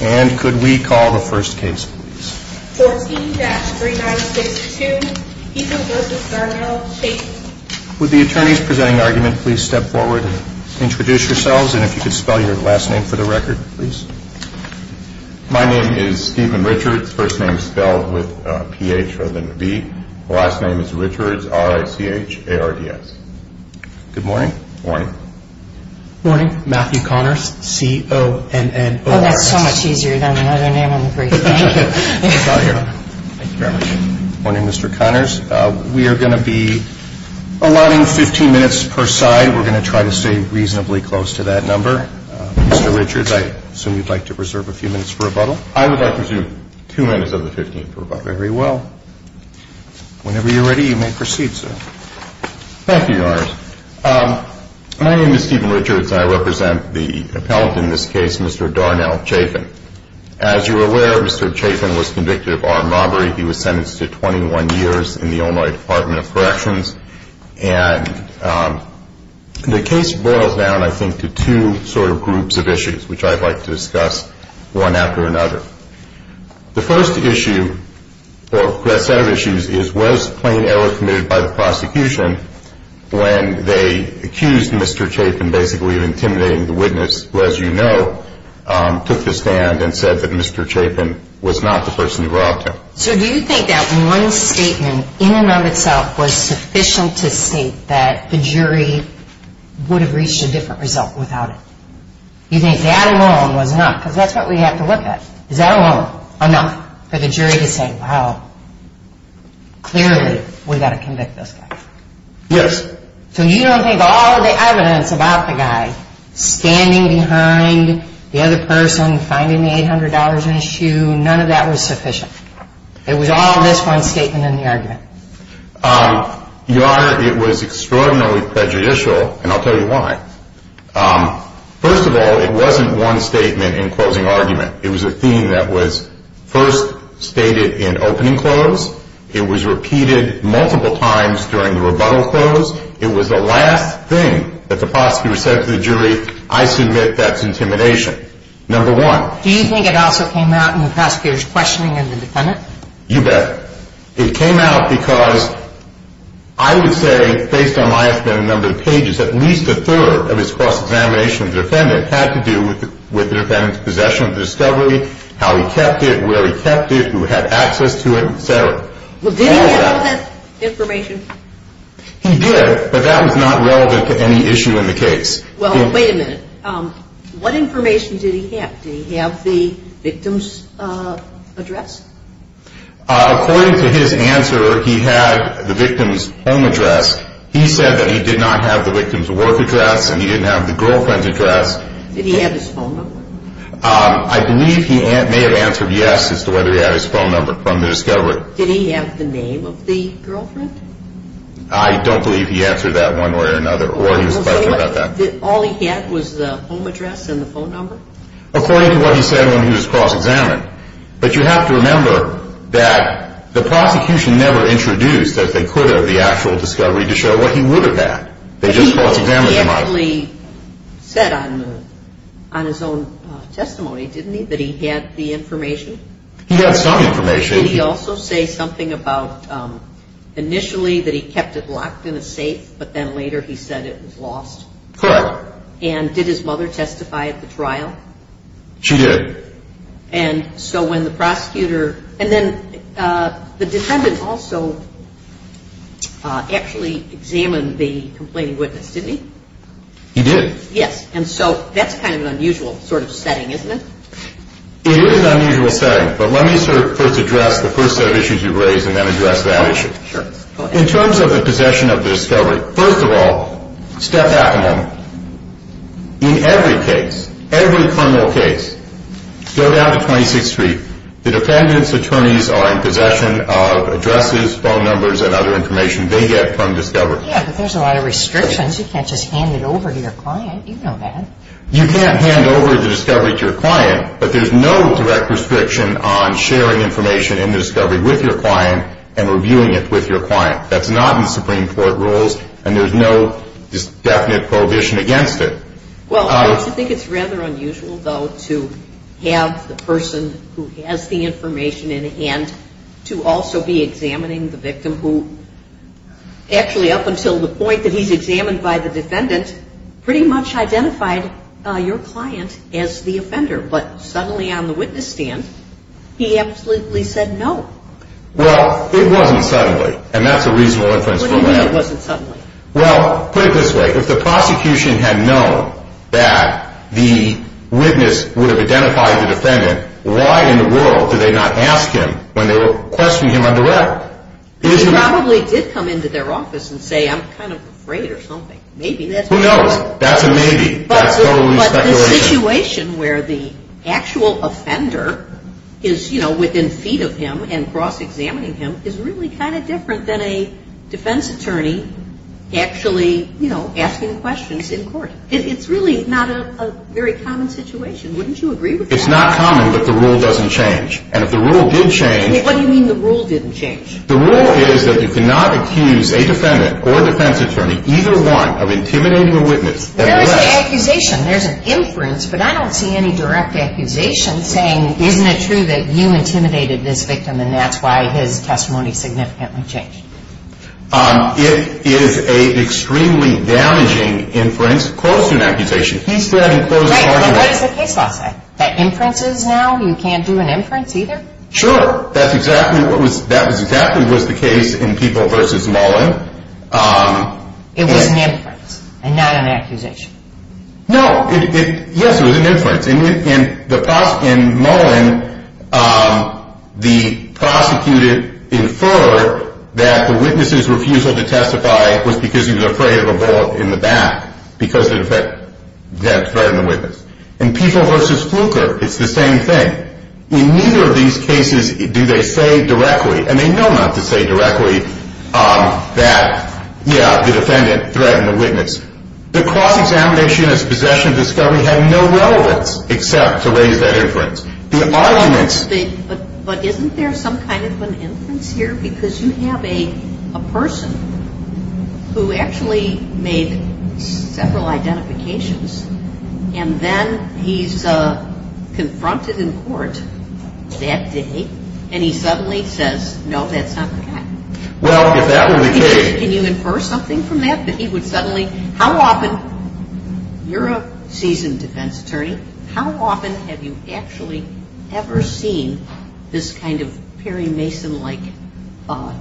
And could we call the first case please? 14-3962 Ethan v. Garnell Chaffin. Would the attorneys presenting the argument please step forward and introduce yourselves and if you could spell your last name for the record please? My name is Stephen Richards, first name spelled with a P-H rather than a V. Last name is Richards, R-I-C-H-A-R-D-S. Good morning. Morning. Morning. Matthew Connors, C-O-N-N-O-R-S. Oh, that's so much easier than another name on the briefcase. Thank you very much. Morning, Mr. Connors. We are going to be allotting 15 minutes per side. We're going to try to stay reasonably close to that number. Mr. Richards, I assume you'd like to reserve a few minutes for rebuttal? I would like to reserve two minutes of the 15th for rebuttal. Very well. Whenever you're ready, you may proceed, sir. Thank you, Your Honors. My name is Stephen Richards and I represent the appellant in this case, Mr. Darnell Chafin. As you're aware, Mr. Chafin was convicted of armed robbery. He was sentenced to 21 years in the Illinois Department of Corrections. And the case boils down, I think, to two sort of groups of issues, which I'd like to discuss one after another. The first issue, or set of issues, is was plain error committed by the prosecution when they accused Mr. Chafin basically of intimidating the witness, who, as you know, took the stand and said that Mr. Chafin was not the person he robbed him. So do you think that one statement in and of itself was sufficient to state that the jury would have reached a different result without it? You think that alone was enough, because that's what we have to look at. Is that alone enough for the jury to say, well, clearly we've got to convict this guy? Yes. So you don't think all the evidence about the guy standing behind the other person, finding the $800 in his shoe, none of that was sufficient? It was all this one statement in the argument? Your Honor, it was extraordinarily prejudicial, and I'll tell you why. First of all, it wasn't one statement in closing argument. It was a theme that was first stated in opening close. It was repeated multiple times during the rebuttal close. It was the last thing that the prosecutor said to the jury, I submit that's intimidation, number one. Do you think it also came out in the prosecutor's questioning and the defendant? You bet. It came out because I would say, based on my number of pages, at least a third of his cross-examination with the defendant had to do with the defendant's possession of the discovery, how he kept it, where he kept it, who had access to it, et cetera. Well, did he have all that information? He did, but that was not relevant to any issue in the case. Well, wait a minute. What information did he have? Did he have the victim's address? According to his answer, he had the victim's home address. He said that he did not have the victim's work address, and he didn't have the girlfriend's address. Did he have his phone number? I believe he may have answered yes as to whether he had his phone number from the discovery. Did he have the name of the girlfriend? I don't believe he answered that one way or another, or he was questioning about that. All he had was the home address and the phone number? According to what he said when he was cross-examined. But you have to remember that the prosecution never introduced, as they could have, the actual discovery to show what he looked at. They just cross-examined him. He repeatedly said on his own testimony, didn't he, that he had the information? He had some information. Did he also say something about initially that he kept it locked in a safe, but then later he said it was lost? Correct. And did his mother testify at the trial? She did. And so when the prosecutor, and then the defendant also actually examined the complaining witness, didn't he? He did. Yes. And so that's kind of an unusual sort of setting, isn't it? It is an unusual setting, but let me sort of first address the first set of issues you raised and then address that issue. In terms of the possession of the discovery, first of all, step back a moment. In every case, every criminal case, go down to 26th Street, the defendants' attorneys are in possession of addresses, phone numbers, and other information they get from discovery. Yeah, but there's a lot of restrictions. You can't just hand it over to your client. You know that. You can't hand over the discovery to your client, but there's no direct restriction on sharing information in the discovery with your client and reviewing it with your client. That's not in Supreme Court rules, and there's no definite prohibition against it. Well, don't you think it's rather unusual, though, to have the person who has the information in hand to also be examining the victim who actually up until the point that he's examined by the defendant pretty much identified your client as the offender, but suddenly on the witness stand, he absolutely said no. Well, it wasn't suddenly, and that's a reasonable inference. What do you mean it wasn't suddenly? Well, put it this way. If the prosecution had known that the witness would have identified the defendant, why in the world did they not ask him when they were questioning him on direct? They probably did come into their office and say, I'm kind of afraid or something. Who knows? That's a maybe. That's totally speculation. The situation where the actual offender is, you know, within feet of him and cross-examining him is really kind of different than a defense attorney actually, you know, asking questions in court. It's really not a very common situation. Wouldn't you agree with that? It's not common, but the rule doesn't change. And if the rule did change What do you mean the rule didn't change? The rule is that you cannot accuse a defendant or a defense attorney, either one, of intimidating a witness. There is an accusation. There's an inference. But I don't see any direct accusation saying, isn't it true that you intimidated this victim and that's why his testimony significantly changed? It is an extremely damaging inference close to an accusation. He's still having close to an argument. Right. And what does the case law say? That inference is now? You can't do an inference, either? Sure. That was exactly what was the case in People v. Mullen. It was an inference and not an accusation. No. Yes, it was an inference. In Mullen, the prosecutor inferred that the witness's refusal to testify was because he was afraid of a vault in the back because of that threat in the witness. In People v. Fluker, it's the same thing. In neither of these cases do they say directly, and they know not to say directly, that, yeah, the defendant threatened the witness. The cross-examination as possession of discovery had no relevance except to raise that inference. The arguments. But isn't there some kind of an inference here? Because you have a person who actually made several identifications, and then he's confronted in court that day, and he suddenly says, no, that's not the guy. Well, if that were the case. Can you infer something from that? You're a seasoned defense attorney. How often have you actually ever seen this kind of Perry Mason-like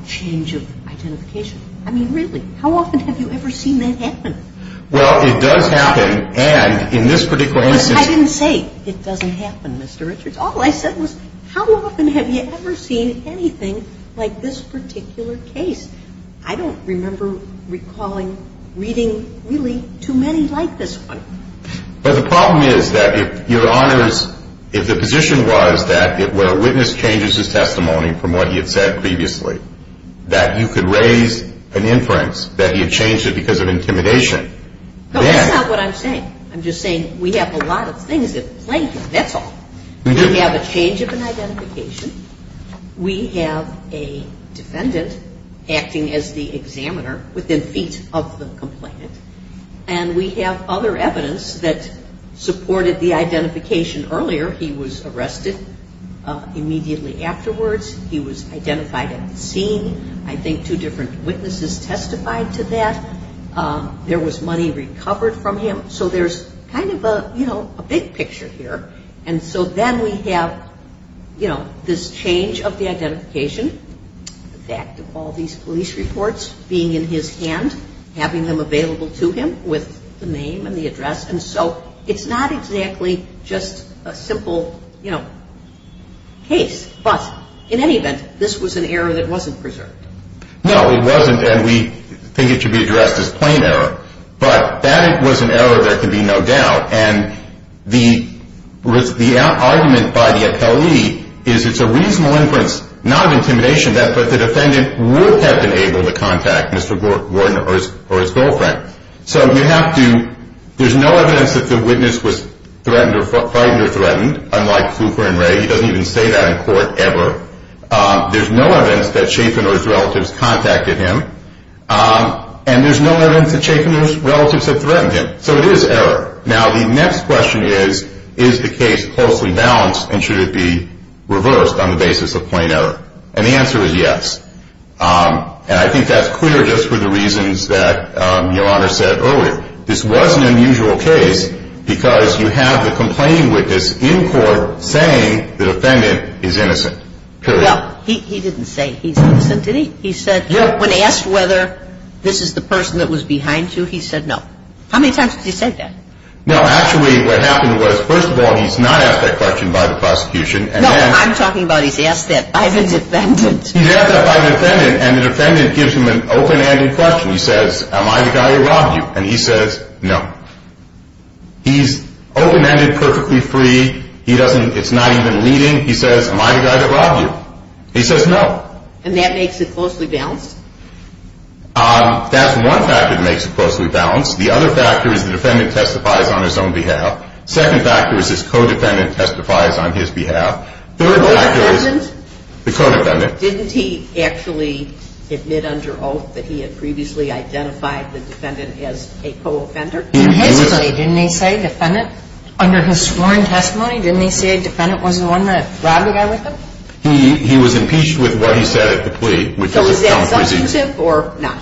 change of identification? I mean, really, how often have you ever seen that happen? Well, it does happen, and in this particular instance. I didn't say it doesn't happen, Mr. Richards. All I said was how often have you ever seen anything like this particular case? I don't remember recalling reading really too many like this one. But the problem is that if your honors, if the position was that where a witness changes his testimony from what he had said previously, that you could raise an inference that he had changed it because of intimidation. No, that's not what I'm saying. I'm just saying we have a lot of things at play here. That's all. We have a change of an identification. We have a defendant acting as the examiner within feet of the complainant, and we have other evidence that supported the identification earlier. He was arrested immediately afterwards. He was identified at the scene. I think two different witnesses testified to that. There was money recovered from him. So there's kind of a big picture here. And so then we have, you know, this change of the identification, the fact of all these police reports being in his hand, having them available to him with the name and the address. And so it's not exactly just a simple, you know, case. But in any event, this was an error that wasn't preserved. No, it wasn't, and we think it should be addressed as plain error. But that was an error there can be no doubt. And the argument by the appellee is it's a reasonable inference, not of intimidation, that the defendant would have been able to contact Mr. Gordner or his girlfriend. So you have to – there's no evidence that the witness was threatened or frightened, unlike Cooper and Ray. He doesn't even say that in court ever. There's no evidence that Schaffiner's relatives contacted him, and there's no evidence that Schaffiner's relatives had threatened him. So it is error. Now, the next question is, is the case closely balanced, and should it be reversed on the basis of plain error? And the answer is yes. And I think that's clear just for the reasons that Your Honor said earlier. This was an unusual case because you have the complaining witness in court saying the defendant is innocent, period. Well, he didn't say he's innocent, did he? He said when asked whether this is the person that was behind you, he said no. How many times did he say that? No, actually what happened was, first of all, he's not asked that question by the prosecution. No, I'm talking about he's asked that by the defendant. He's asked that by the defendant, and the defendant gives him an open-ended question. He says, am I the guy that robbed you? And he says no. He's open-ended, perfectly free. He doesn't – it's not even leading. He says, am I the guy that robbed you? He says no. And that makes it closely balanced? That's one factor that makes it closely balanced. The other factor is the defendant testifies on his own behalf. The second factor is his co-defendant testifies on his behalf. The third factor is – Co-defendant? The co-defendant. Didn't he actually admit under oath that he had previously identified the defendant as a co-offender? In his testimony, didn't he say defendant? Under his sworn testimony, didn't he say defendant was the one that robbed the guy with him? He was impeached with what he said at the plea. So is that substantive or not?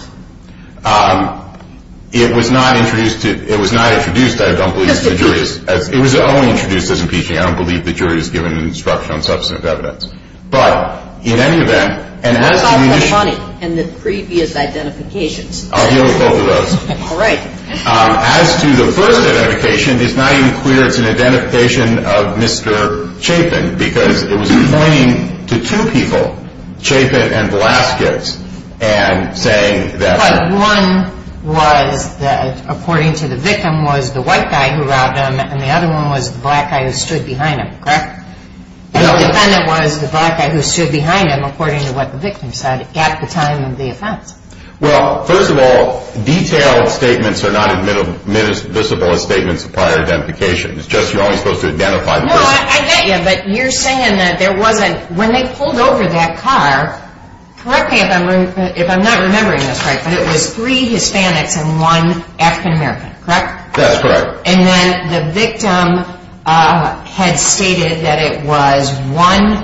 It was not introduced to – it was not introduced, I don't believe, to the jury. It was only introduced as impeaching. I don't believe the jury has given an instruction on substantive evidence. But in any event – What about the money and the previous identifications? I'll deal with both of those. All right. As to the first identification, it's not even clear it's an identification of Mr. Chapin because it was pointing to two people, Chapin and Velazquez, and saying that – But one was that according to the victim was the white guy who robbed him and the other one was the black guy who stood behind him, correct? The defendant was the black guy who stood behind him according to what the victim said at the time of the offense. Well, first of all, detailed statements are not admissible as statements of prior identification. It's just you're only supposed to identify the person. No, I get you. But you're saying that there wasn't – when they pulled over that car, correct me if I'm not remembering this right, but it was three Hispanics and one African-American, correct? That's correct. And then the victim had stated that it was one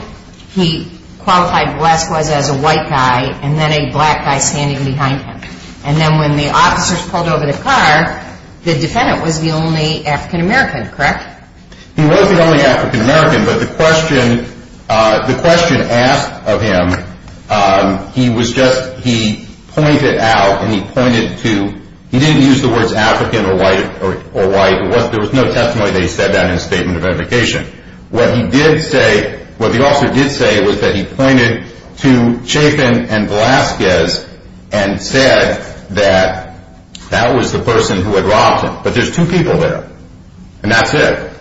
he qualified Velazquez as a white guy and then a black guy standing behind him. And then when the officers pulled over the car, the defendant was the only African-American, correct? Correct. He wasn't the only African-American, but the question asked of him, he was just – he pointed out and he pointed to – he didn't use the words African or white. There was no testimony that he said that in his statement of identification. What he did say – what the officer did say was that he pointed to Chapin and Velazquez and said that that was the person who had robbed him. But there's two people there, and that's it.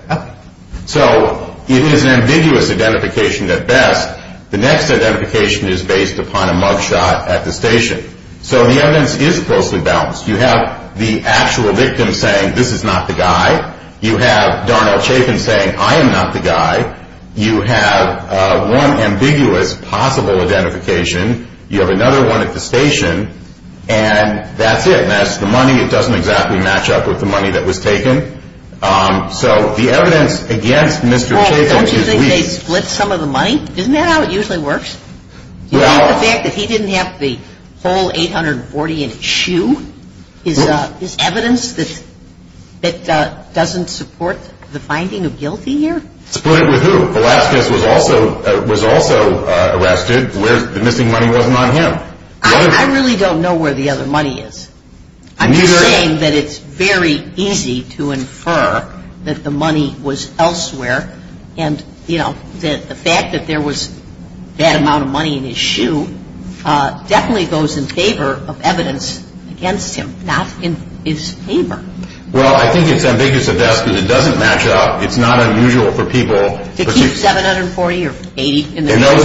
So it is an ambiguous identification at best. The next identification is based upon a mugshot at the station. So the evidence is closely balanced. You have the actual victim saying, this is not the guy. You have Darnell Chapin saying, I am not the guy. You have one ambiguous possible identification. You have another one at the station, and that's it. And that's the money. It doesn't exactly match up with the money that was taken. So the evidence against Mr. Chapin – Don't you think they split some of the money? Isn't that how it usually works? The fact that he didn't have the whole 840 in his shoe is evidence that doesn't support the finding of guilty here? Split with who? Velazquez was also arrested. The missing money wasn't on him. I really don't know where the other money is. I'm just saying that it's very easy to infer that the money was elsewhere. And, you know, the fact that there was that amount of money in his shoe definitely goes in favor of evidence against him, not in his favor. Well, I think it's ambiguous at best because it doesn't match up. It's not unusual for people – To keep 740 or 80 in their shoes? In those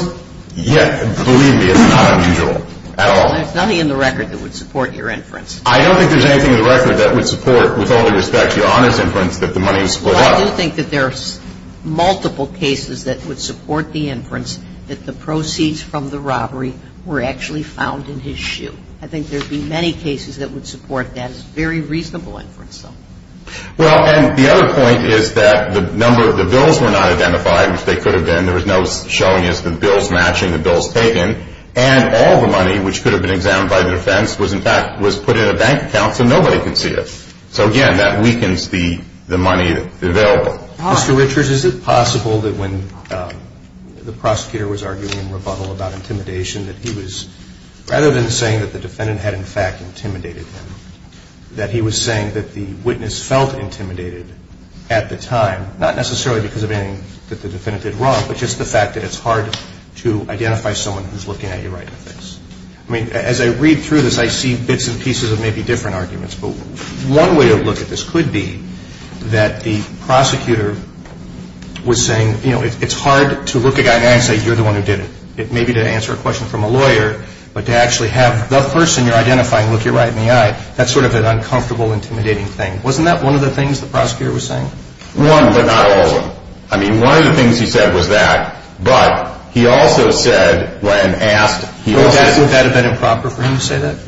neighborhoods? Yeah. Believe me, it's not unusual at all. There's nothing in the record that would support your inference. I don't think there's anything in the record that would support, with all due respect, Your Honor's inference that the money was split up. Well, I do think that there are multiple cases that would support the inference that the proceeds from the robbery were actually found in his shoe. I think there would be many cases that would support that. It's a very reasonable inference, though. Well, and the other point is that the number – the bills were not identified, which they could have been. There was no showing as to the bills matching the bills taken. And all the money, which could have been examined by the defense, was in fact put in a bank account so nobody could see it. So, again, that weakens the money available. Mr. Richards, is it possible that when the prosecutor was arguing in rebuttal about intimidation, that he was – rather than saying that the defendant had in fact intimidated him, that he was saying that the witness felt intimidated at the time, not necessarily because of anything that the defendant did wrong, but just the fact that it's hard to identify someone who's looking at you right in the face? I mean, as I read through this, I see bits and pieces of maybe different arguments. But one way to look at this could be that the prosecutor was saying, you know, it's hard to look a guy in the eye and say you're the one who did it. It may be to answer a question from a lawyer, but to actually have the person you're identifying look you right in the eye, that's sort of an uncomfortable, intimidating thing. Wasn't that one of the things the prosecutor was saying? One, but not all of them. I mean, one of the things he said was that, but he also said when asked – Would that have been improper for him to say that?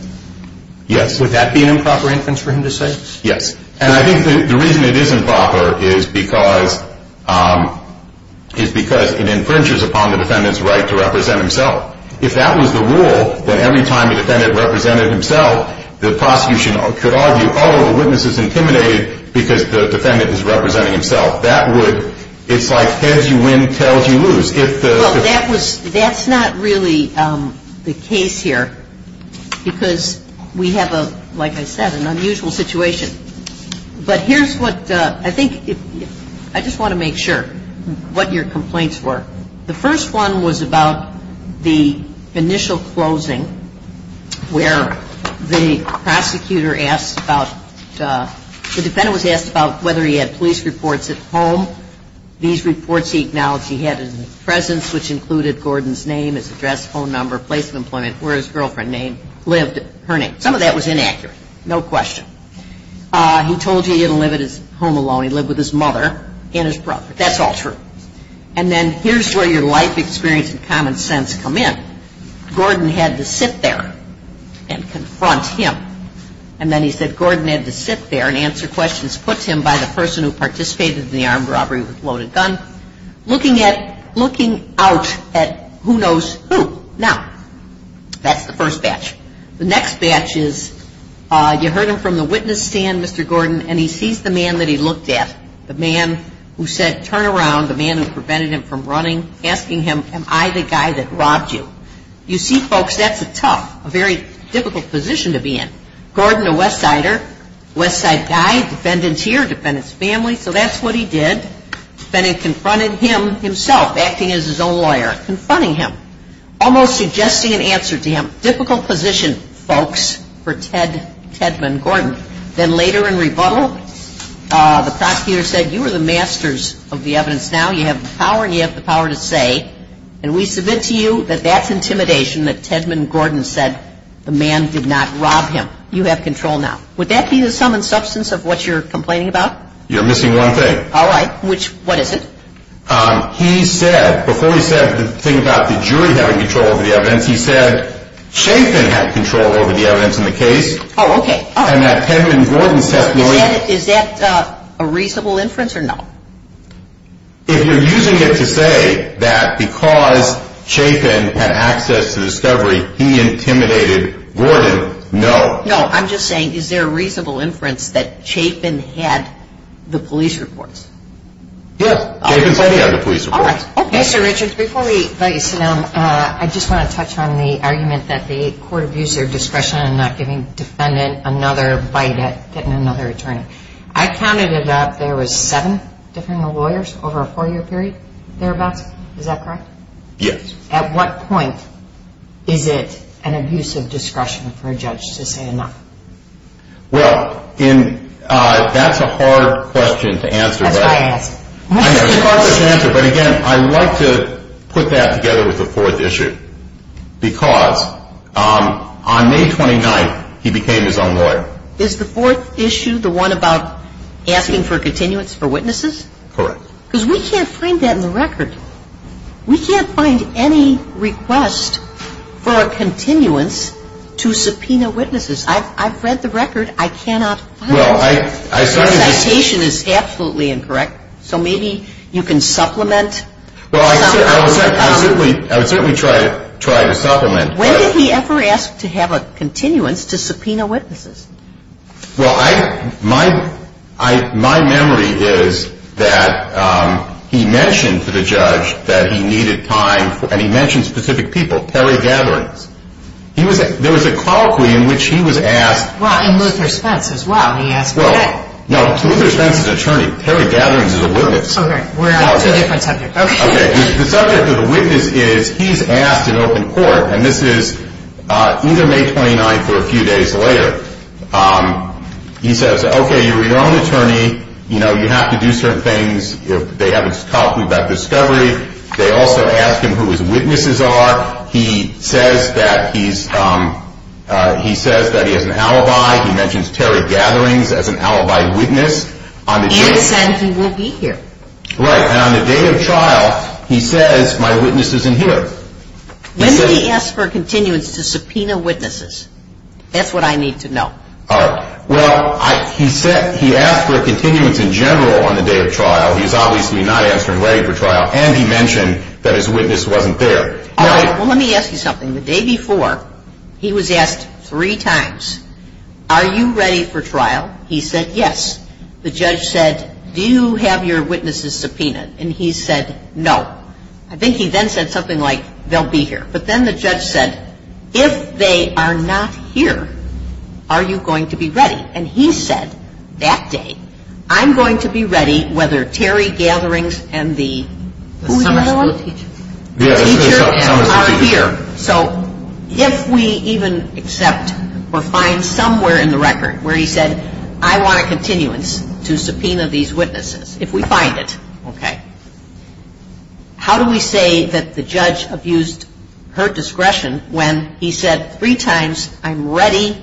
Yes. Would that be an improper inference for him to say? Yes. And I think the reason it is improper is because it infringes upon the defendant's right to represent himself. If that was the rule, then every time the defendant represented himself, the prosecution could argue, oh, the witness is intimidated because the defendant is representing himself. That would – it's like heads you win, tails you lose. Well, that was – that's not really the case here because we have a, like I said, an unusual situation. But here's what I think – I just want to make sure what your complaints were. The first one was about the initial closing where the prosecutor asked about – the defendant was asked about whether he had police reports at home. These reports he acknowledged he had in his presence, which included Gordon's name, his address, phone number, place of employment, where his girlfriend lived, her name. Some of that was inaccurate. No question. He told you he didn't live at his home alone. He lived with his mother and his brother. That's all true. And then here's where your life experience and common sense come in. Gordon had to sit there and confront him. And then he said Gordon had to sit there and answer questions put to him by the person who participated in the armed robbery with a loaded gun, looking at – looking out at who knows who. Now, that's the first batch. The next batch is you heard him from the witness stand, Mr. Gordon, and he sees the man that he looked at, the man who said, turn around, the man who prevented him from running, asking him, am I the guy that robbed you? You see, folks, that's a tough, a very difficult position to be in. Gordon, a West Sider, West Side guy, defendant's here, defendant's family, so that's what he did. Defendant confronted him himself, acting as his own lawyer, confronting him, almost suggesting an answer to him. Difficult position, folks, for Ted – Tedman Gordon. Then later in rebuttal, the prosecutor said, you are the masters of the evidence now. You have the power and you have the power to say, and we submit to you that that's intimidation, that Tedman Gordon said the man did not rob him. You have control now. Would that be the sum and substance of what you're complaining about? You're missing one thing. All right. Which – what is it? He said – before he said the thing about the jury having control over the evidence, he said Chapin had control over the evidence in the case. Oh, okay. And that Tedman Gordon's testimony – Is that a reasonable inference or no? If you're using it to say that because Chapin had access to discovery, he intimidated Gordon, no. No. I'm just saying, is there a reasonable inference that Chapin had the police reports? Yes. Chapin said he had the police reports. All right. Okay. Mr. Richards, before we let you sit down, I just want to touch on the argument that the court abused their discretion in not giving the defendant another bite at getting another attorney. I counted it up. There was seven different lawyers over a four-year period thereabouts. Is that correct? Yes. At what point is it an abuse of discretion for a judge to say enough? Well, that's a hard question to answer. That's why I asked. It's a hard question to answer, but, again, I like to put that together with the fourth issue because on May 29th, he became his own lawyer. Is the fourth issue the one about asking for continuance for witnesses? Correct. Because we can't find that in the record. We can't find any request for a continuance to subpoena witnesses. I've read the record. I cannot find it. Well, I started to – Your citation is absolutely incorrect, so maybe you can supplement. Well, I would certainly try to supplement. When did he ever ask to have a continuance to subpoena witnesses? Well, my memory is that he mentioned to the judge that he needed time, and he mentioned specific people, Perry Gatherings. There was a colloquy in which he was asked. Well, in Luther Spence as well, he asked Perry. No, Luther Spence is an attorney. Perry Gatherings is a witness. Okay. We're on two different subjects. Okay. The subject of the witness is he's asked in open court, and this is either May 29th or a few days later. He says, okay, you're your own attorney. You have to do certain things. They have a colloquy about discovery. They also ask him who his witnesses are. He says that he has an alibi. He mentions Perry Gatherings as an alibi witness. And said he will be here. Right. And on the day of trial, he says my witness isn't here. When did he ask for a continuance to subpoena witnesses? That's what I need to know. All right. Well, he asked for a continuance in general on the day of trial. He's obviously not answering ready for trial, and he mentioned that his witness wasn't there. All right. Well, let me ask you something. The day before, he was asked three times, are you ready for trial? He said, yes. The judge said, do you have your witnesses subpoenaed? And he said, no. I think he then said something like, they'll be here. But then the judge said, if they are not here, are you going to be ready? And he said, that day, I'm going to be ready whether Terry Gatherings and the summer school teacher are here. So if we even accept or find somewhere in the record where he said, I want a continuance to subpoena these witnesses, if we find it, okay, how do we say that the judge abused her discretion when he said three times, I'm ready,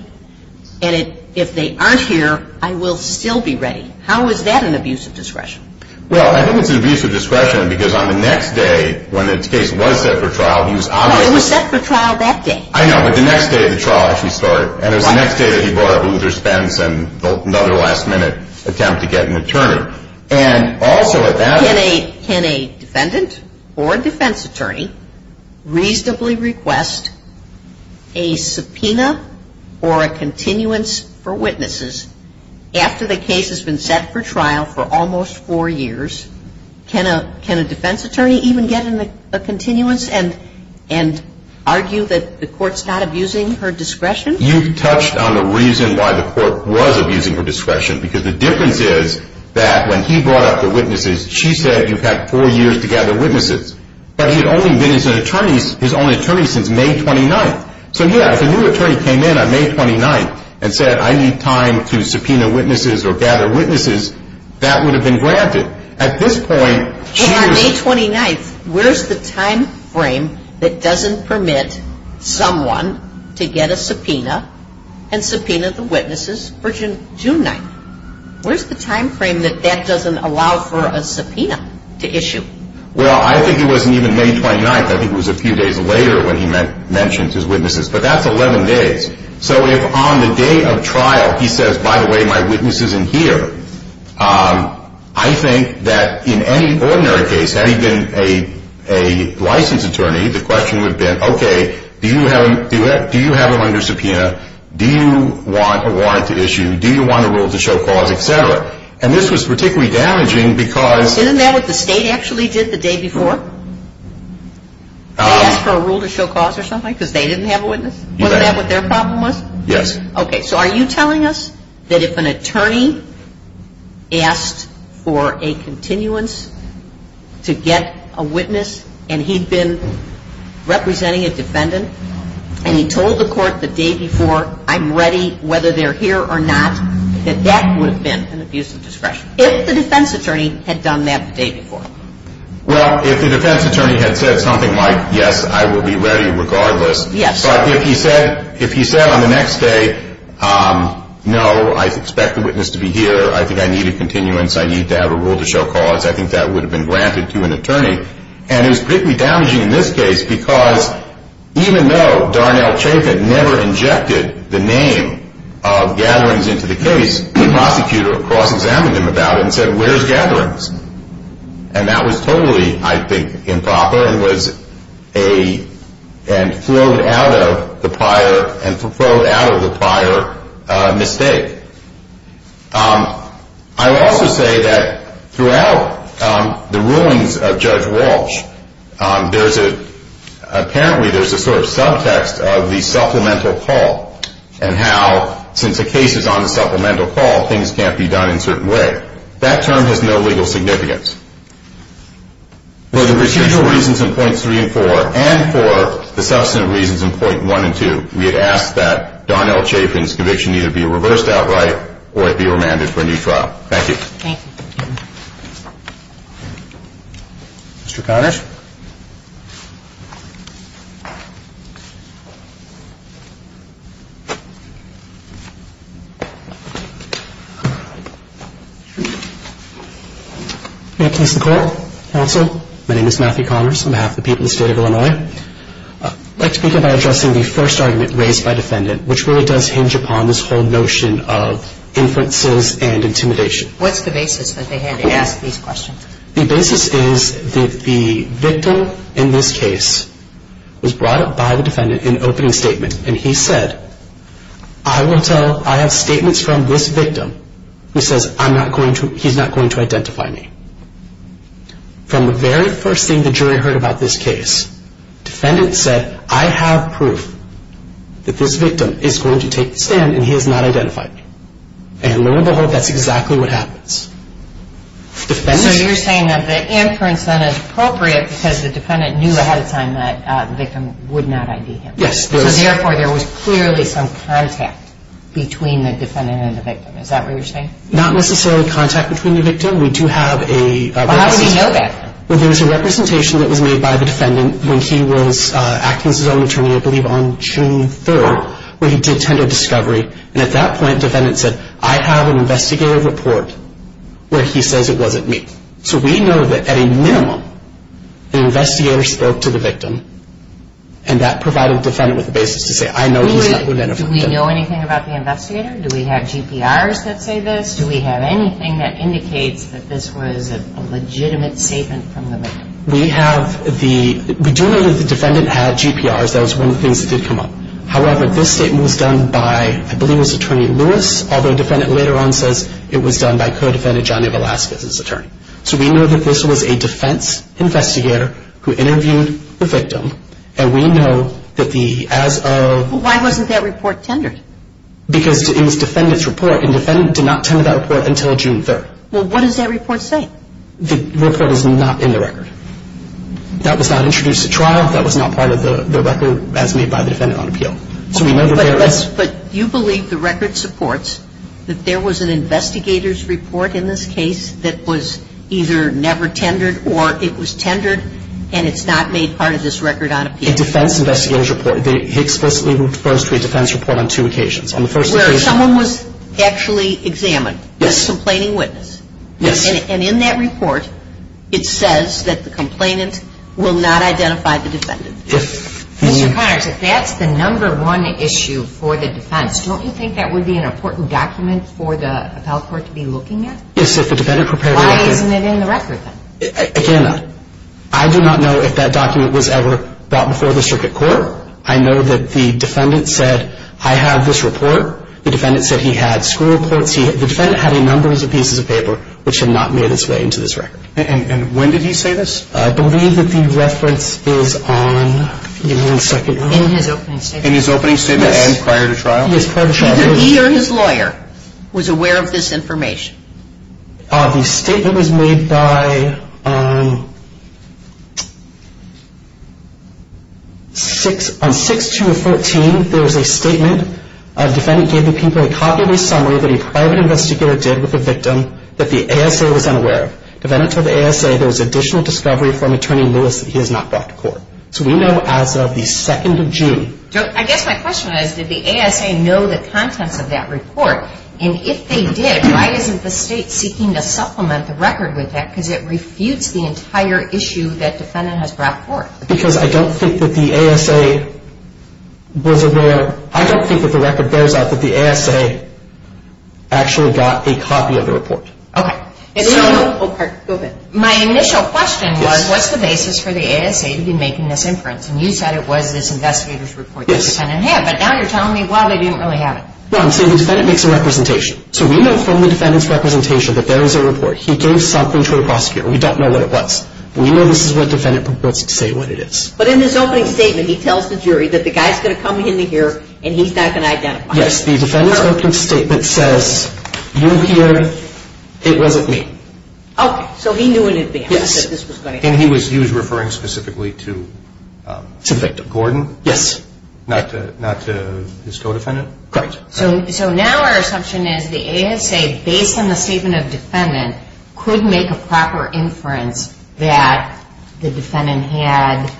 and if they aren't here, I will still be ready? How is that an abuse of discretion? Well, I think it's an abuse of discretion because on the next day, when the case was set for trial, he was obviously – No, it was set for trial that day. I know, but the next day of the trial, as we started, and it was the next day that he brought up Luther Spence and another last-minute attempt to get an attorney. And also at that – Can a defendant or defense attorney reasonably request a subpoena or a continuance for witnesses after the case has been set for trial for almost four years? Can a defense attorney even get a continuance and argue that the court's not abusing her discretion? You've touched on the reason why the court was abusing her discretion because the difference is that when he brought up the witnesses, she said you've had four years to gather witnesses. But he had only been his own attorney since May 29th. So, yeah, if a new attorney came in on May 29th and said, I need time to subpoena witnesses or gather witnesses, that would have been granted. At this point, she was – Well, on May 29th, where's the timeframe that doesn't permit someone to get a subpoena and subpoena the witnesses for June 9th? Where's the timeframe that that doesn't allow for a subpoena to issue? Well, I think it wasn't even May 29th. I think it was a few days later when he mentioned his witnesses. But that's 11 days. So if on the day of trial he says, by the way, my witness isn't here, I think that in any ordinary case, had he been a licensed attorney, the question would have been, okay, do you have a lender subpoena? Do you want a warrant to issue? Do you want a rule to show cause, et cetera? And this was particularly damaging because – Isn't that what the state actually did the day before? They asked for a rule to show cause or something because they didn't have a witness? You bet. Wasn't that what their problem was? Yes. Okay, so are you telling us that if an attorney asked for a continuance to get a witness and he'd been representing a defendant and he told the court the day before, I'm ready whether they're here or not, that that would have been an abuse of discretion? If the defense attorney had done that the day before. Well, if the defense attorney had said something like, yes, I will be ready regardless. Yes. But if he said on the next day, no, I expect the witness to be here, I think I need a continuance, I need to have a rule to show cause, I think that would have been granted to an attorney. And it was particularly damaging in this case because even though Darnell Chaffin never injected the name of Gatherings into the case, the prosecutor cross-examined him about it and said, where's Gatherings? And that was totally, I think, improper and flowed out of the prior mistake. I would also say that throughout the rulings of Judge Walsh, apparently there's a sort of subtext of the supplemental call and how since the case is on the supplemental call, things can't be done in a certain way. That term has no legal significance. For the procedural reasons in points three and four and for the substantive reasons in point one and two, we had asked that Darnell Chaffin's conviction either be reversed outright or it be remanded for a new trial. Thank you. Thank you. Thank you. Mr. Connors? May it please the Court, Counsel, my name is Matthew Connors, on behalf of the people of the State of Illinois. I'd like to begin by addressing the first argument raised by the defendant, which really does hinge upon this whole notion of inferences and intimidation. What's the basis that they had to ask these questions? The basis is that the victim in this case was brought up by the defendant in an opening statement and he said, I will tell, I have statements from this victim. He says, I'm not going to, he's not going to identify me. From the very first thing the jury heard about this case, defendant said, I have proof that this victim is going to take the stand and he has not identified me. And lo and behold, that's exactly what happens. So you're saying that the inference then is appropriate because the defendant knew ahead of time that the victim would not ID him. Yes. So therefore, there was clearly some contact between the defendant and the victim. Is that what you're saying? Not necessarily contact between the victim. We do have a... How did he know that? Well, there was a representation that was made by the defendant when he was acting as his own attorney, I believe on June 3rd, when he did tender discovery. And at that point, defendant said, I have an investigative report where he says it wasn't me. So we know that at a minimum, the investigator spoke to the victim and that provided the defendant with the basis to say, I know he's not going to identify me. Do we know anything about the investigator? Do we have GPRs that say this? Do we have anything that indicates that this was a legitimate statement from the victim? We have the... We do know that the defendant had GPRs. That was one of the things that did come up. However, this statement was done by, I believe it was Attorney Lewis, although the defendant later on says it was done by co-defendant Johnny Velazquez's attorney. So we know that this was a defense investigator who interviewed the victim, and we know that the... Why wasn't that report tendered? Because it was defendant's report, and defendant did not tender that report until June 3rd. Well, what does that report say? The report is not in the record. That was not introduced at trial. That was not part of the record as made by the defendant on appeal. So we know that there is... But you believe the record supports that there was an investigator's report in this case that was either never tendered or it was tendered and it's not made part of this record on appeal. A defense investigator's report. He explicitly refers to a defense report on two occasions. Where someone was actually examined as a complaining witness. Yes. And in that report, it says that the complainant will not identify the defendant. Yes. Mr. Connors, if that's the number one issue for the defense, don't you think that would be an important document for the appellate court to be looking at? Yes, if the defendant prepared... Why isn't it in the record then? Again, I do not know if that document was ever brought before the circuit court. I know that the defendant said, I have this report. The defendant said he had school reports. The defendant had a number of pieces of paper which had not made its way into this record. And when did he say this? I believe that the reference is on... In his opening statement. In his opening statement and prior to trial. Yes, prior to trial. Either he or his lawyer was aware of this information. The statement was made by... On 6-2-14, there was a statement. The defendant gave the people a copy of his summary that a private investigator did with the victim that the ASA was unaware of. The defendant told the ASA there was additional discovery from Attorney Lewis that he has not brought to court. So we know as of the 2nd of June... I guess my question is, did the ASA know the contents of that report? And if they did, why isn't the state seeking to supplement the record with that? Because it refutes the entire issue that the defendant has brought forth. Because I don't think that the ASA was aware... I don't think that the record bears out that the ASA actually got a copy of the report. Okay. So... Oh, go ahead. My initial question was, what's the basis for the ASA to be making this inference? And you said it was this investigator's report that the defendant had. Yes. But now you're telling me, wow, they didn't really have it. No, I'm saying the defendant makes a representation. So we know from the defendant's representation that there is a report. He gave something to a prosecutor. We don't know what it was. We know this is what the defendant proposes to say what it is. But in his opening statement, he tells the jury that the guy is going to come in here and he's not going to identify him. Yes. The defendant's opening statement says, you here, it wasn't me. Okay. So he knew in advance that this was going to happen. And he was referring specifically to... To Victor. Gordon. Yes. Not to his co-defendant? Correct. So now our assumption is the ASA, based on the statement of defendant, could make a proper inference that the defendant had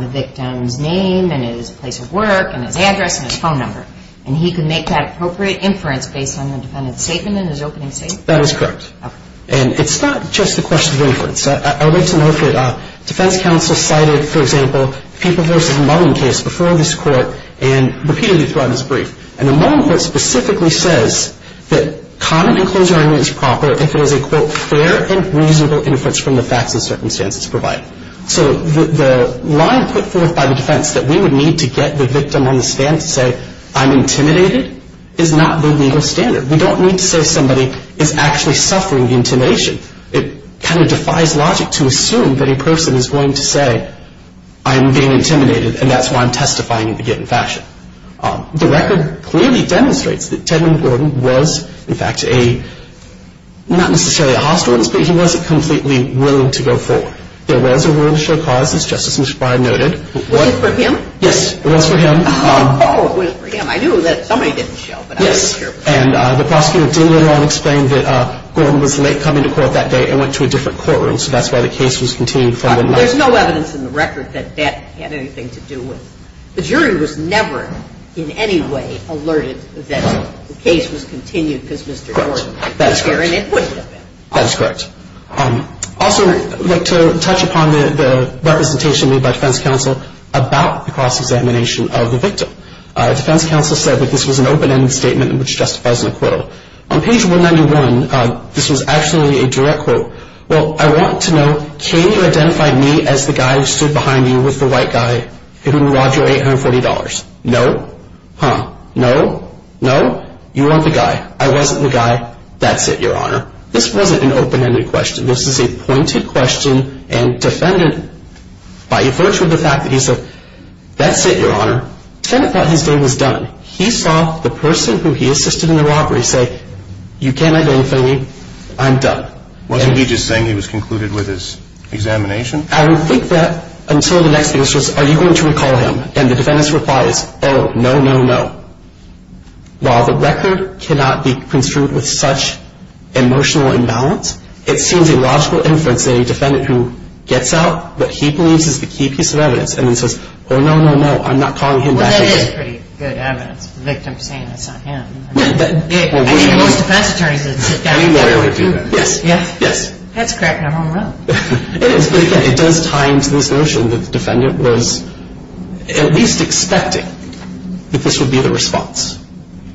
the victim's name and his place of work and his address and his phone number. And he could make that appropriate inference based on the defendant's statement in his opening statement? That is correct. Okay. And it's not just a question of inference. I would like to know if Defense Counsel cited, for example, the People v. Mullin case before this Court and repeatedly throughout this brief. And the Mullin Court specifically says that common enclosure argument is proper if it is a, quote, fair and reasonable inference from the facts and circumstances provided. So the line put forth by the defense that we would need to get the victim on the stand to say, I'm intimidated, is not the legal standard. We don't need to say somebody is actually suffering the intimidation. It kind of defies logic to assume that a person is going to say, I'm being intimidated, and that's why I'm testifying in the given fashion. The record clearly demonstrates that Tedman Gordon was, in fact, a, not necessarily a hostile, but he wasn't completely willing to go forward. There was a willingness to show cause, as Justice McBride noted. Was it for him? Yes. It was for him. Oh, it was for him. I knew that somebody didn't show, but I wasn't sure. Yes. And the prosecutor did later on explain that Gordon was late coming to court that day and went to a different courtroom, so that's why the case was continued from then on. Well, there's no evidence in the record that that had anything to do with it. The jury was never in any way alerted that the case was continued because Mr. Gordon was there and it wouldn't have been. That is correct. Also, I'd like to touch upon the representation made by defense counsel about the cross-examination of the victim. Defense counsel said that this was an open-ended statement which justifies an acquittal. On page 191, this was actually a direct quote. Well, I want to know, can you identify me as the guy who stood behind you with the white guy who robbed you of $840? No. Huh. No. No. You weren't the guy. I wasn't the guy. That's it, Your Honor. This wasn't an open-ended question. This is a pointed question, and defendant, by virtue of the fact that he said, that's it, Your Honor, defendant thought his day was done. He saw the person who he assisted in the robbery say, you can't identify me, I'm done. Wasn't he just saying he was concluded with his examination? I would think that until the next case, he says, are you going to recall him? And the defendant's reply is, oh, no, no, no. While the record cannot be construed with such emotional imbalance, it seems a logical inference that a defendant who gets out, what he believes is the key piece of evidence, and then says, oh, no, no, no, I'm not calling him back again. Well, that is pretty good evidence, the victim saying it's not him. I think most defense attorneys would sit down with that. We would do that. Yes. Yes. That's cracking up on them. It is. But, again, it does tie into this notion that the defendant was at least expecting that this would be the response.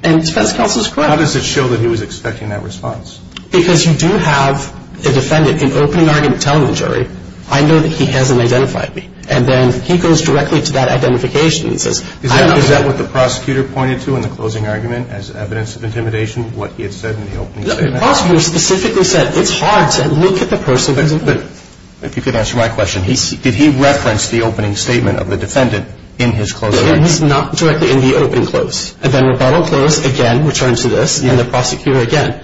And defense counsel is correct. How does it show that he was expecting that response? Because you do have a defendant in opening argument telling the jury, I know that he hasn't identified me. And then he goes directly to that identification and says, I don't know. Is that what the prosecutor pointed to in the closing argument as evidence of intimidation, what he had said in the opening statement? The prosecutor specifically said, it's hard to look at the person who's in front of you. If you could answer my question, did he reference the opening statement of the defendant in his closing argument? Not directly in the opening close. And then rebuttal close, again, returns to this, and the prosecutor again.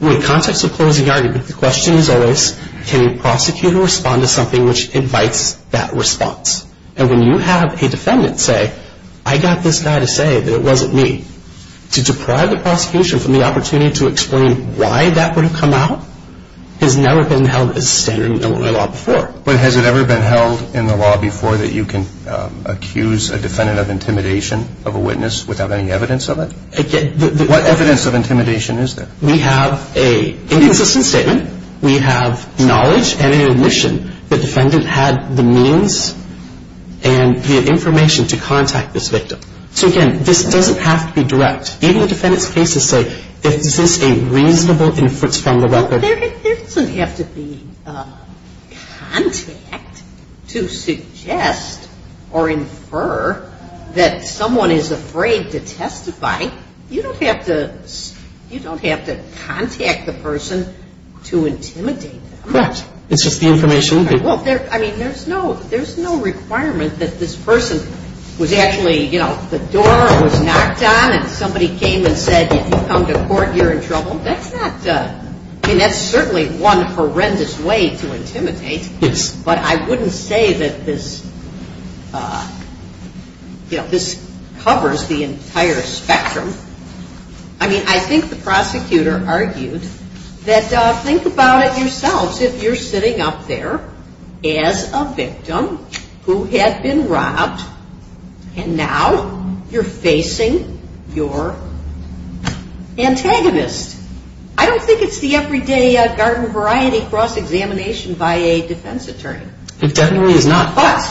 In the context of closing argument, the question is always, can the prosecutor respond to something which invites that response? And when you have a defendant say, I got this guy to say that it wasn't me, to deprive the prosecution from the opportunity to explain why that would have come out has never been held as standard in Illinois law before. But has it ever been held in the law before that you can accuse a defendant of intimidation of a witness without any evidence of it? What evidence of intimidation is there? We have an inconsistent statement. We have knowledge and an admission the defendant had the means and the information to contact this victim. So again, this doesn't have to be direct. Even the defendant's cases say, is this a reasonable inference from the record? There doesn't have to be contact to suggest or infer that someone is afraid to testify. You don't have to contact the person to intimidate them. Right. It's just the information. I mean, there's no requirement that this person was actually, you know, the door was knocked on and somebody came and said, if you come to court, you're in trouble. That's not, I mean, that's certainly one horrendous way to intimidate. But I wouldn't say that this, you know, this covers the entire spectrum. I mean, I think the prosecutor argued that think about it yourselves. Suppose if you're sitting up there as a victim who had been robbed, and now you're facing your antagonist. I don't think it's the everyday garden variety cross-examination by a defense attorney. It definitely is not. But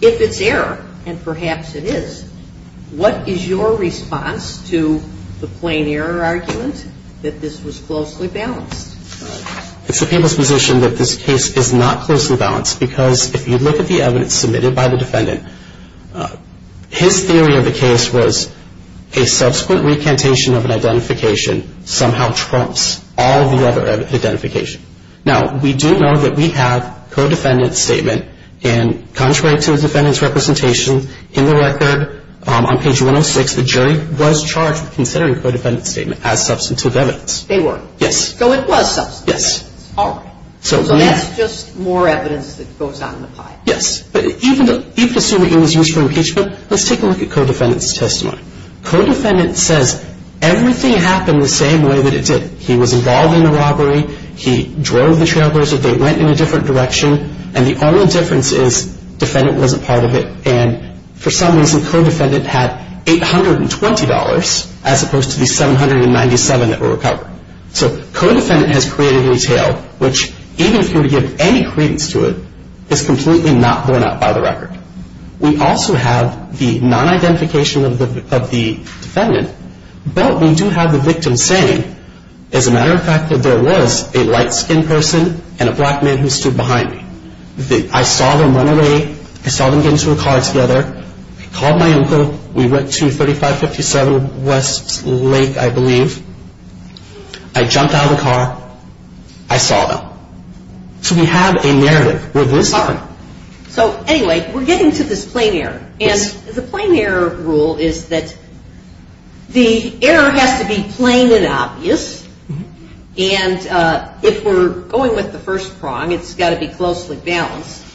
if it's error, and perhaps it is, what is your response to the plain error argument that this was closely balanced? It's the people's position that this case is not closely balanced because if you look at the evidence submitted by the defendant, his theory of the case was a subsequent recantation of an identification somehow trumps all the other identification. Now, we do know that we have co-defendant statement, and contrary to the defendant's representation, in the record on page 106, the jury was charged with considering co-defendant statement as substantive evidence. They were. Yes. So it was substantive. Yes. All right. So that's just more evidence that goes on in the pie. Yes. But even assuming it was used for impeachment, let's take a look at co-defendant's testimony. Co-defendant says everything happened the same way that it did. He was involved in the robbery. He drove the trailblazer. They went in a different direction. And the only difference is defendant wasn't part of it. And for some reason, co-defendant had $820 as opposed to the $797 that were recovered. So co-defendant has created a tale which, even if you were to give any credence to it, is completely not borne out by the record. We also have the non-identification of the defendant, but we do have the victim saying, as a matter of fact, that there was a light-skinned person and a black man who stood behind me. I saw them run away. I saw them get into a car together. I called my uncle. We went to 3557 West Lake, I believe. I jumped out of the car. I saw them. So we have a narrative where this happened. So, anyway, we're getting to this plain error. And the plain error rule is that the error has to be plain and obvious. And if we're going with the first prong, it's got to be closely balanced.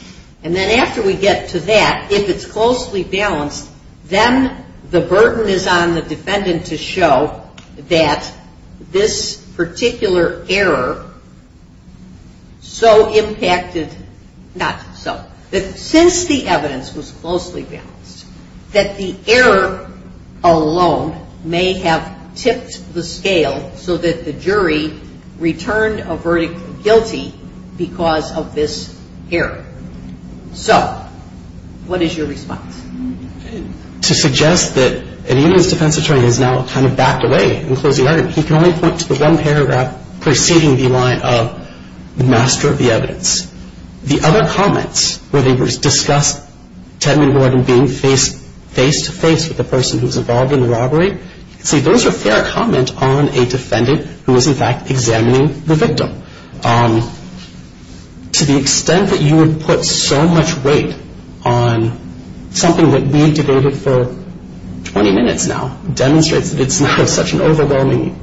And then after we get to that, if it's closely balanced, then the burden is on the defendant to show that this particular error so impacted not so. But since the evidence was closely balanced, that the error alone may have tipped the scale so that the jury returned a verdict guilty because of this error. So what is your response? To suggest that an Indian's defense attorney has now kind of backed away and closed the argument, he can only point to the one paragraph preceding the line of the master of the evidence. The other comments were they discussed Tedman Warden being face-to-face with the person who was involved in the robbery. See, those are fair comment on a defendant who is, in fact, examining the victim. To the extent that you would put so much weight on something that we've debated for 20 minutes now, demonstrates that it's not such an overwhelming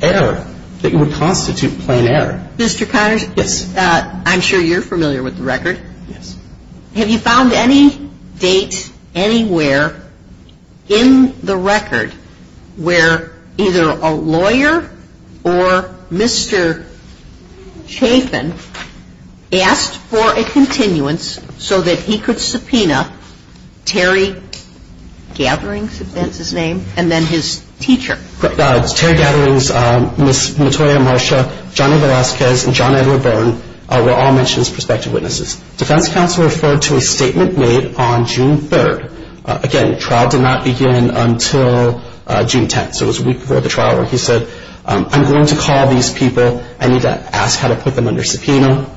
error that you would constitute plain error. Mr. Connors? Yes. I'm sure you're familiar with the record. Yes. Have you found any date anywhere in the record where either a lawyer or Mr. Chafin asked for a continuance so that he could subpoena Terry Gatherings, if that's his name, and then his teacher? Terry Gatherings, Ms. Matoya-Marsha, Johnny Velazquez, and John Edward Byrne were all mentioned as prospective witnesses. Defense counsel referred to a statement made on June 3rd. Again, trial did not begin until June 10th. So it was a week before the trial where he said, I'm going to call these people. I need to ask how to put them under subpoena.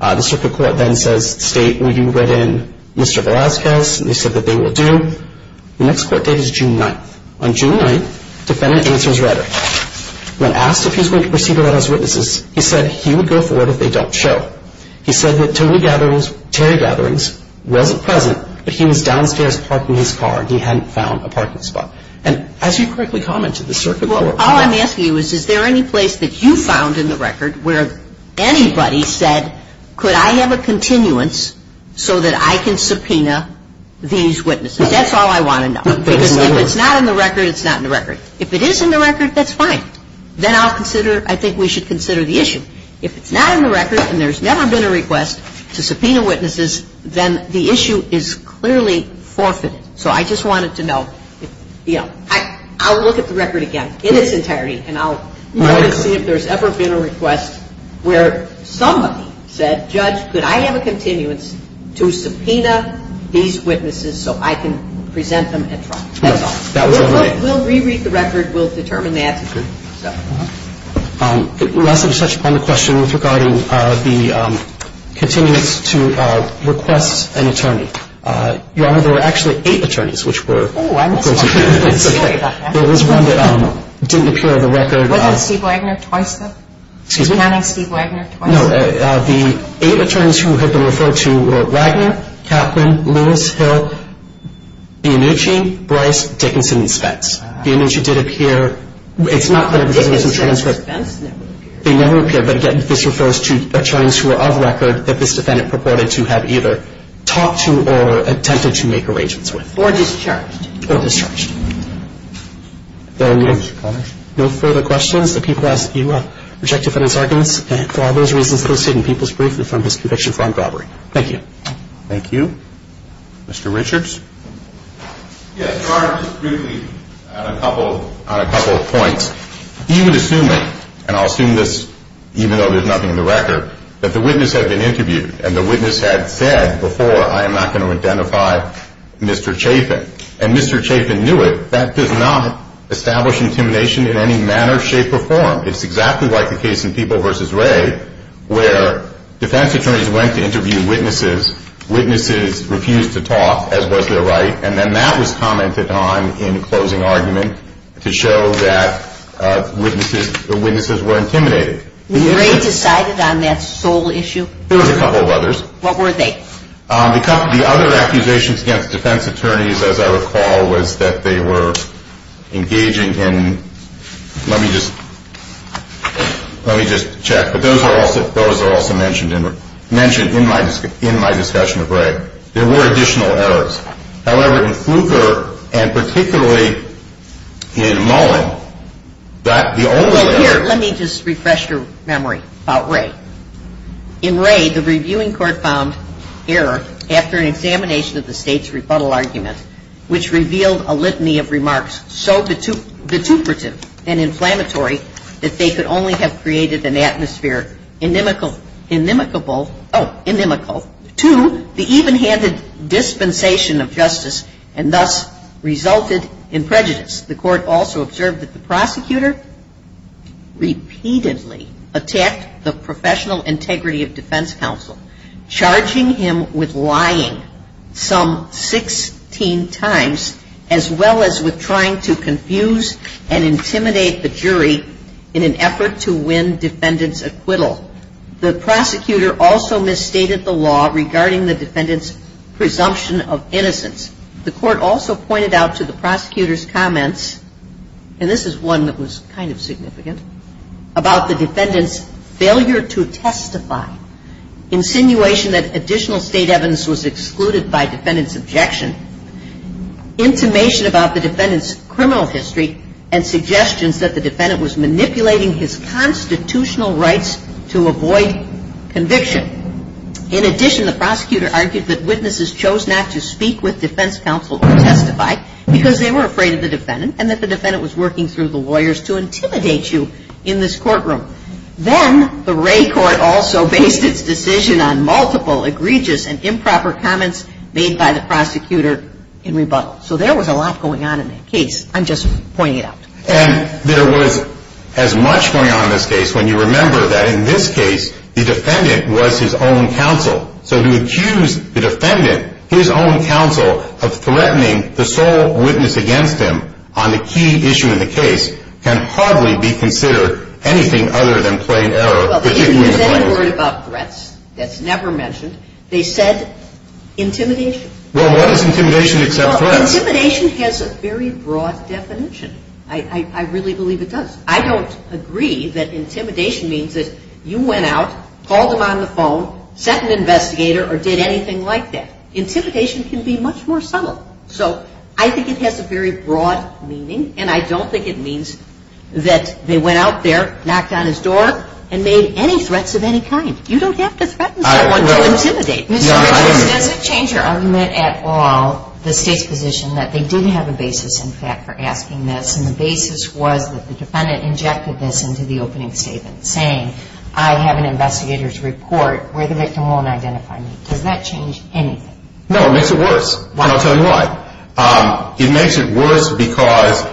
The circuit court then says, state, will you let in Mr. Velazquez? And they said that they will do. The next court date is June 9th. On June 9th, defendant answers rhetoric. When asked if he's going to proceed without his witnesses, he said he would go forward if they don't show. He said that Terry Gatherings wasn't present, but he was downstairs parking his car. He hadn't found a parking spot. And as you correctly commented, the circuit court- Well, all I'm asking you is, is there any place that you found in the record where anybody said, could I have a continuance so that I can subpoena these witnesses? That's all I want to know. Because if it's not in the record, it's not in the record. If it is in the record, that's fine. Then I'll consider, I think we should consider the issue. If it's not in the record and there's never been a request to subpoena witnesses, then the issue is clearly forfeited. So I just wanted to know if, you know, I'll look at the record again in its entirety and I'll look and see if there's ever been a request where somebody said, Judge, could I have a continuance to subpoena these witnesses so I can present them at trial? That's all. We'll reread the record. We'll determine the answer to that. Last I'm going to touch upon the question regarding the continuance to request an attorney. Your Honor, there were actually eight attorneys which were- Oh, I missed one. I'm sorry about that. There was one that didn't appear in the record. Wasn't it Steve Wagner twice then? Excuse me? Counting Steve Wagner twice? No. The eight attorneys who had been referred to were Wagner, Kaplan, Lewis, Hill, Bianucci, Bryce, Dickinson, and Spence. Bianucci did appear. It's not that- Dickinson and Spence never appeared. They never appeared. But again, this refers to attorneys who were of record that this defendant purported to have either talked to or attempted to make arrangements with. Or discharged. Or discharged. Thank you, Your Honor. No further questions? Thank you. Mr. Richards? Yes, Your Honor, just briefly on a couple of points. Even assuming, and I'll assume this even though there's nothing in the record, that the witness had been interviewed and the witness had said before, I am not going to identify Mr. Chapin. And Mr. Chapin knew it. That does not establish intimidation in any manner, shape, or form. It's exactly like the case in People v. Wray where defense attorneys went to interview witnesses, witnesses refused to talk, as was their right, and then that was commented on in closing argument to show that the witnesses were intimidated. Was Wray decided on that sole issue? There were a couple of others. What were they? The other accusations against defense attorneys, as I recall, was that they were engaging in, let me just check, but those are also mentioned in my discussion of Wray. There were additional errors. However, in Fluker and particularly in Mullen, the only error. Well, here, let me just refresh your memory about Wray. In Wray, the reviewing court found error after an examination of the state's rebuttal argument, which revealed a litany of remarks so detuperative and inflammatory that they could only have created an atmosphere inimical to the even-handed dispensation of justice and thus resulted in prejudice. The court also observed that the prosecutor repeatedly attacked the professional integrity of defense counsel, charging him with lying some 16 times, as well as with trying to confuse and intimidate the jury in an effort to win defendant's acquittal. The prosecutor also misstated the law regarding the defendant's presumption of innocence. The court also pointed out to the prosecutor's comments, and this is one that was kind of significant, about the defendant's failure to testify. Insinuation that additional state evidence was excluded by defendant's objection. Intimation about the defendant's criminal history and suggestions that the defendant was manipulating his constitutional rights to avoid conviction. In addition, the prosecutor argued that witnesses chose not to speak with defense counsel to testify because they were afraid of the defendant and that the defendant was working through the lawyers to intimidate you in this courtroom. Then the Wray Court also based its decision on multiple egregious and improper comments made by the prosecutor in rebuttal. So there was a lot going on in that case. I'm just pointing it out. And there was as much going on in this case when you remember that in this case the defendant was his own counsel. So to accuse the defendant, his own counsel, of threatening the sole witness against him on the key issue in the case can hardly be considered anything other than plain error, particularly in this case. Well, there isn't any word about threats. That's never mentioned. They said intimidation. Well, what does intimidation except threats? Well, intimidation has a very broad definition. I really believe it does. I don't agree that intimidation means that you went out, called him on the phone, sent an investigator, or did anything like that. Intimidation can be much more subtle. So I think it has a very broad meaning, and I don't think it means that they went out there, knocked on his door, and made any threats of any kind. You don't have to threaten someone to intimidate them. Does it change your argument at all, the State's position, that they did have a basis, in fact, for asking this, and the basis was that the defendant injected this into the opening statement, saying, I have an investigator's report where the victim won't identify me. Does that change anything? No, it makes it worse. Why? I'll tell you why. It makes it worse because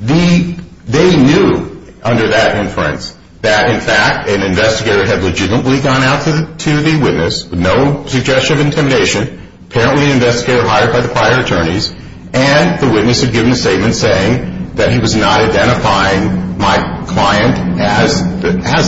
they knew, under that inference, that, in fact, an investigator had legitimately gone out to the witness with no suggestion of intimidation, apparently an investigator hired by the prior attorneys, and the witness had given a statement saying that he was not identifying my client as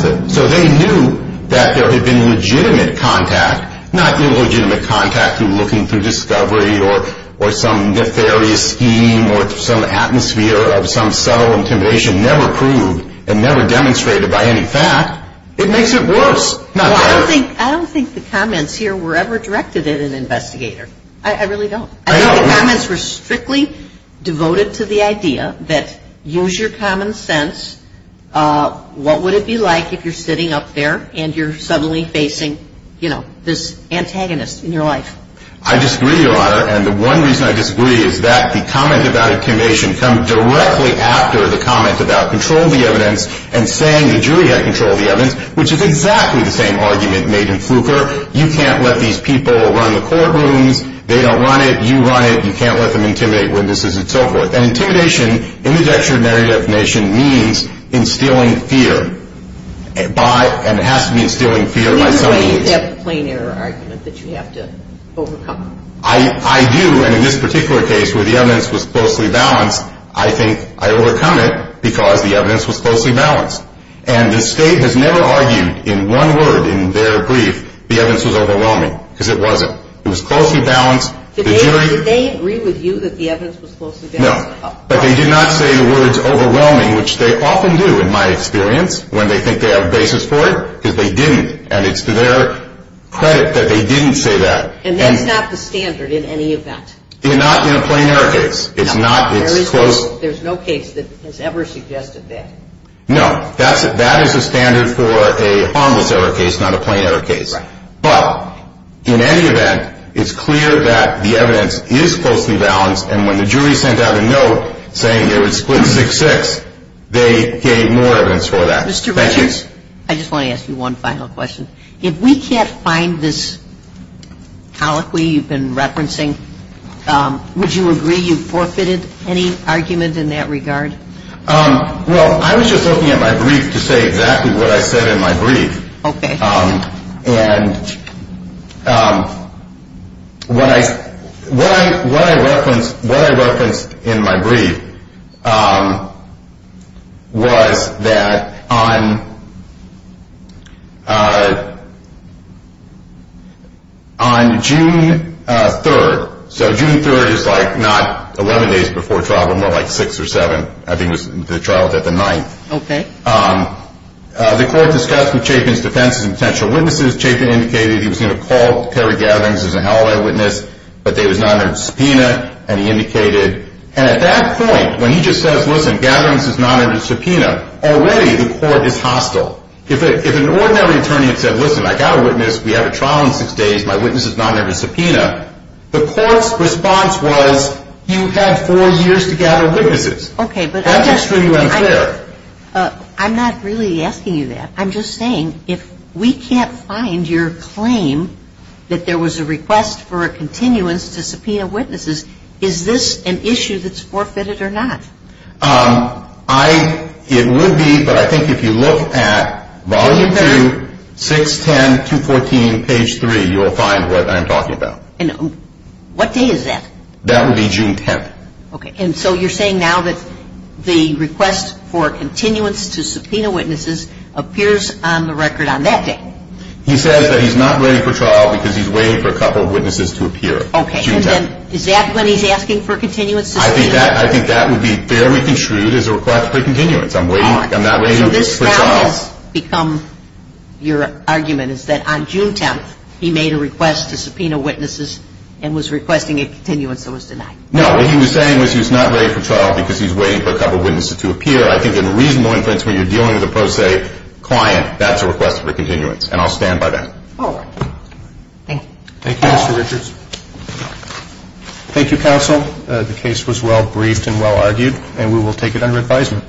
the... So they knew that there had been legitimate contact, not illegitimate contact through looking through discovery or some nefarious scheme or some atmosphere of some subtle intimidation never proved and never demonstrated by any fact. It makes it worse. I don't think the comments here were ever directed at an investigator. I really don't. I think the comments were strictly devoted to the idea that, use your common sense, what would it be like if you're sitting up there and you're suddenly facing this antagonist in your life? I disagree, Your Honor. And the one reason I disagree is that the comment about intimidation comes directly after the comment about control of the evidence and saying the jury had control of the evidence, which is exactly the same argument made in Fluker. You can't let these people run the courtrooms. They don't run it. You run it. You can't let them intimidate witnesses and so forth. And intimidation in the judiciary definition means instilling fear, and it has to mean instilling fear by some means. Either way, you have the plain error argument that you have to overcome. I do, and in this particular case where the evidence was closely balanced, I think I overcome it because the evidence was closely balanced. And the State has never argued in one word in their brief the evidence was overwhelming because it wasn't. It was closely balanced. Did they agree with you that the evidence was closely balanced? No. But they did not say the words overwhelming, which they often do in my experience when they think they have a basis for it, because they didn't. And it's to their credit that they didn't say that. And that's not the standard in any event. Not in a plain error case. It's not. There's no case that has ever suggested that. No. That is a standard for a harmless error case, not a plain error case. But in any event, it's clear that the evidence is closely balanced, and when the jury sent out a note saying it was split 6-6, they gave more evidence for that. Thank you. Mr. Richards, I just want to ask you one final question. If we can't find this colloquy you've been referencing, would you agree you forfeited any argument in that regard? Well, I was just looking at my brief to say exactly what I said in my brief. Okay. And what I referenced in my brief was that on June 3rd, so June 3rd is like not 11 days before trial, but more like 6 or 7. I think the trial was at the 9th. Okay. The court discussed with Chapin's defense and potential witnesses, Chapin indicated he was going to call Terry Gatherings as a hallway witness, but they was not under subpoena, and he indicated. And at that point, when he just says, listen, Gatherings is not under subpoena, already the court is hostile. If an ordinary attorney had said, listen, I got a witness, we have a trial in 6 days, my witness is not under subpoena, the court's response was, you have 4 years to gather witnesses. Okay. That's extremely unfair. I'm not really asking you that. I'm just saying if we can't find your claim that there was a request for a continuance to subpoena witnesses, is this an issue that's forfeited or not? It would be, but I think if you look at volume 2, 610214, page 3, you'll find what I'm talking about. And what day is that? That would be June 10th. Okay. And so you're saying now that the request for a continuance to subpoena witnesses appears on the record on that day? He says that he's not ready for trial because he's waiting for a couple of witnesses to appear. Okay. Is that when he's asking for a continuance? I think that would be fairly contrued as a request for continuance. I'm not waiting for trial. So this has become your argument is that on June 10th, he made a request to subpoena witnesses and was requesting a continuance that was denied. No, what he was saying was he was not ready for trial because he's waiting for a couple of witnesses to appear. I think in reasonable inference when you're dealing with a pro se client, that's a request for continuance. And I'll stand by that. All right. Thank you. Thank you, Mr. Richards. Thank you, counsel. The case was well briefed and well argued, and we will take it under advisement.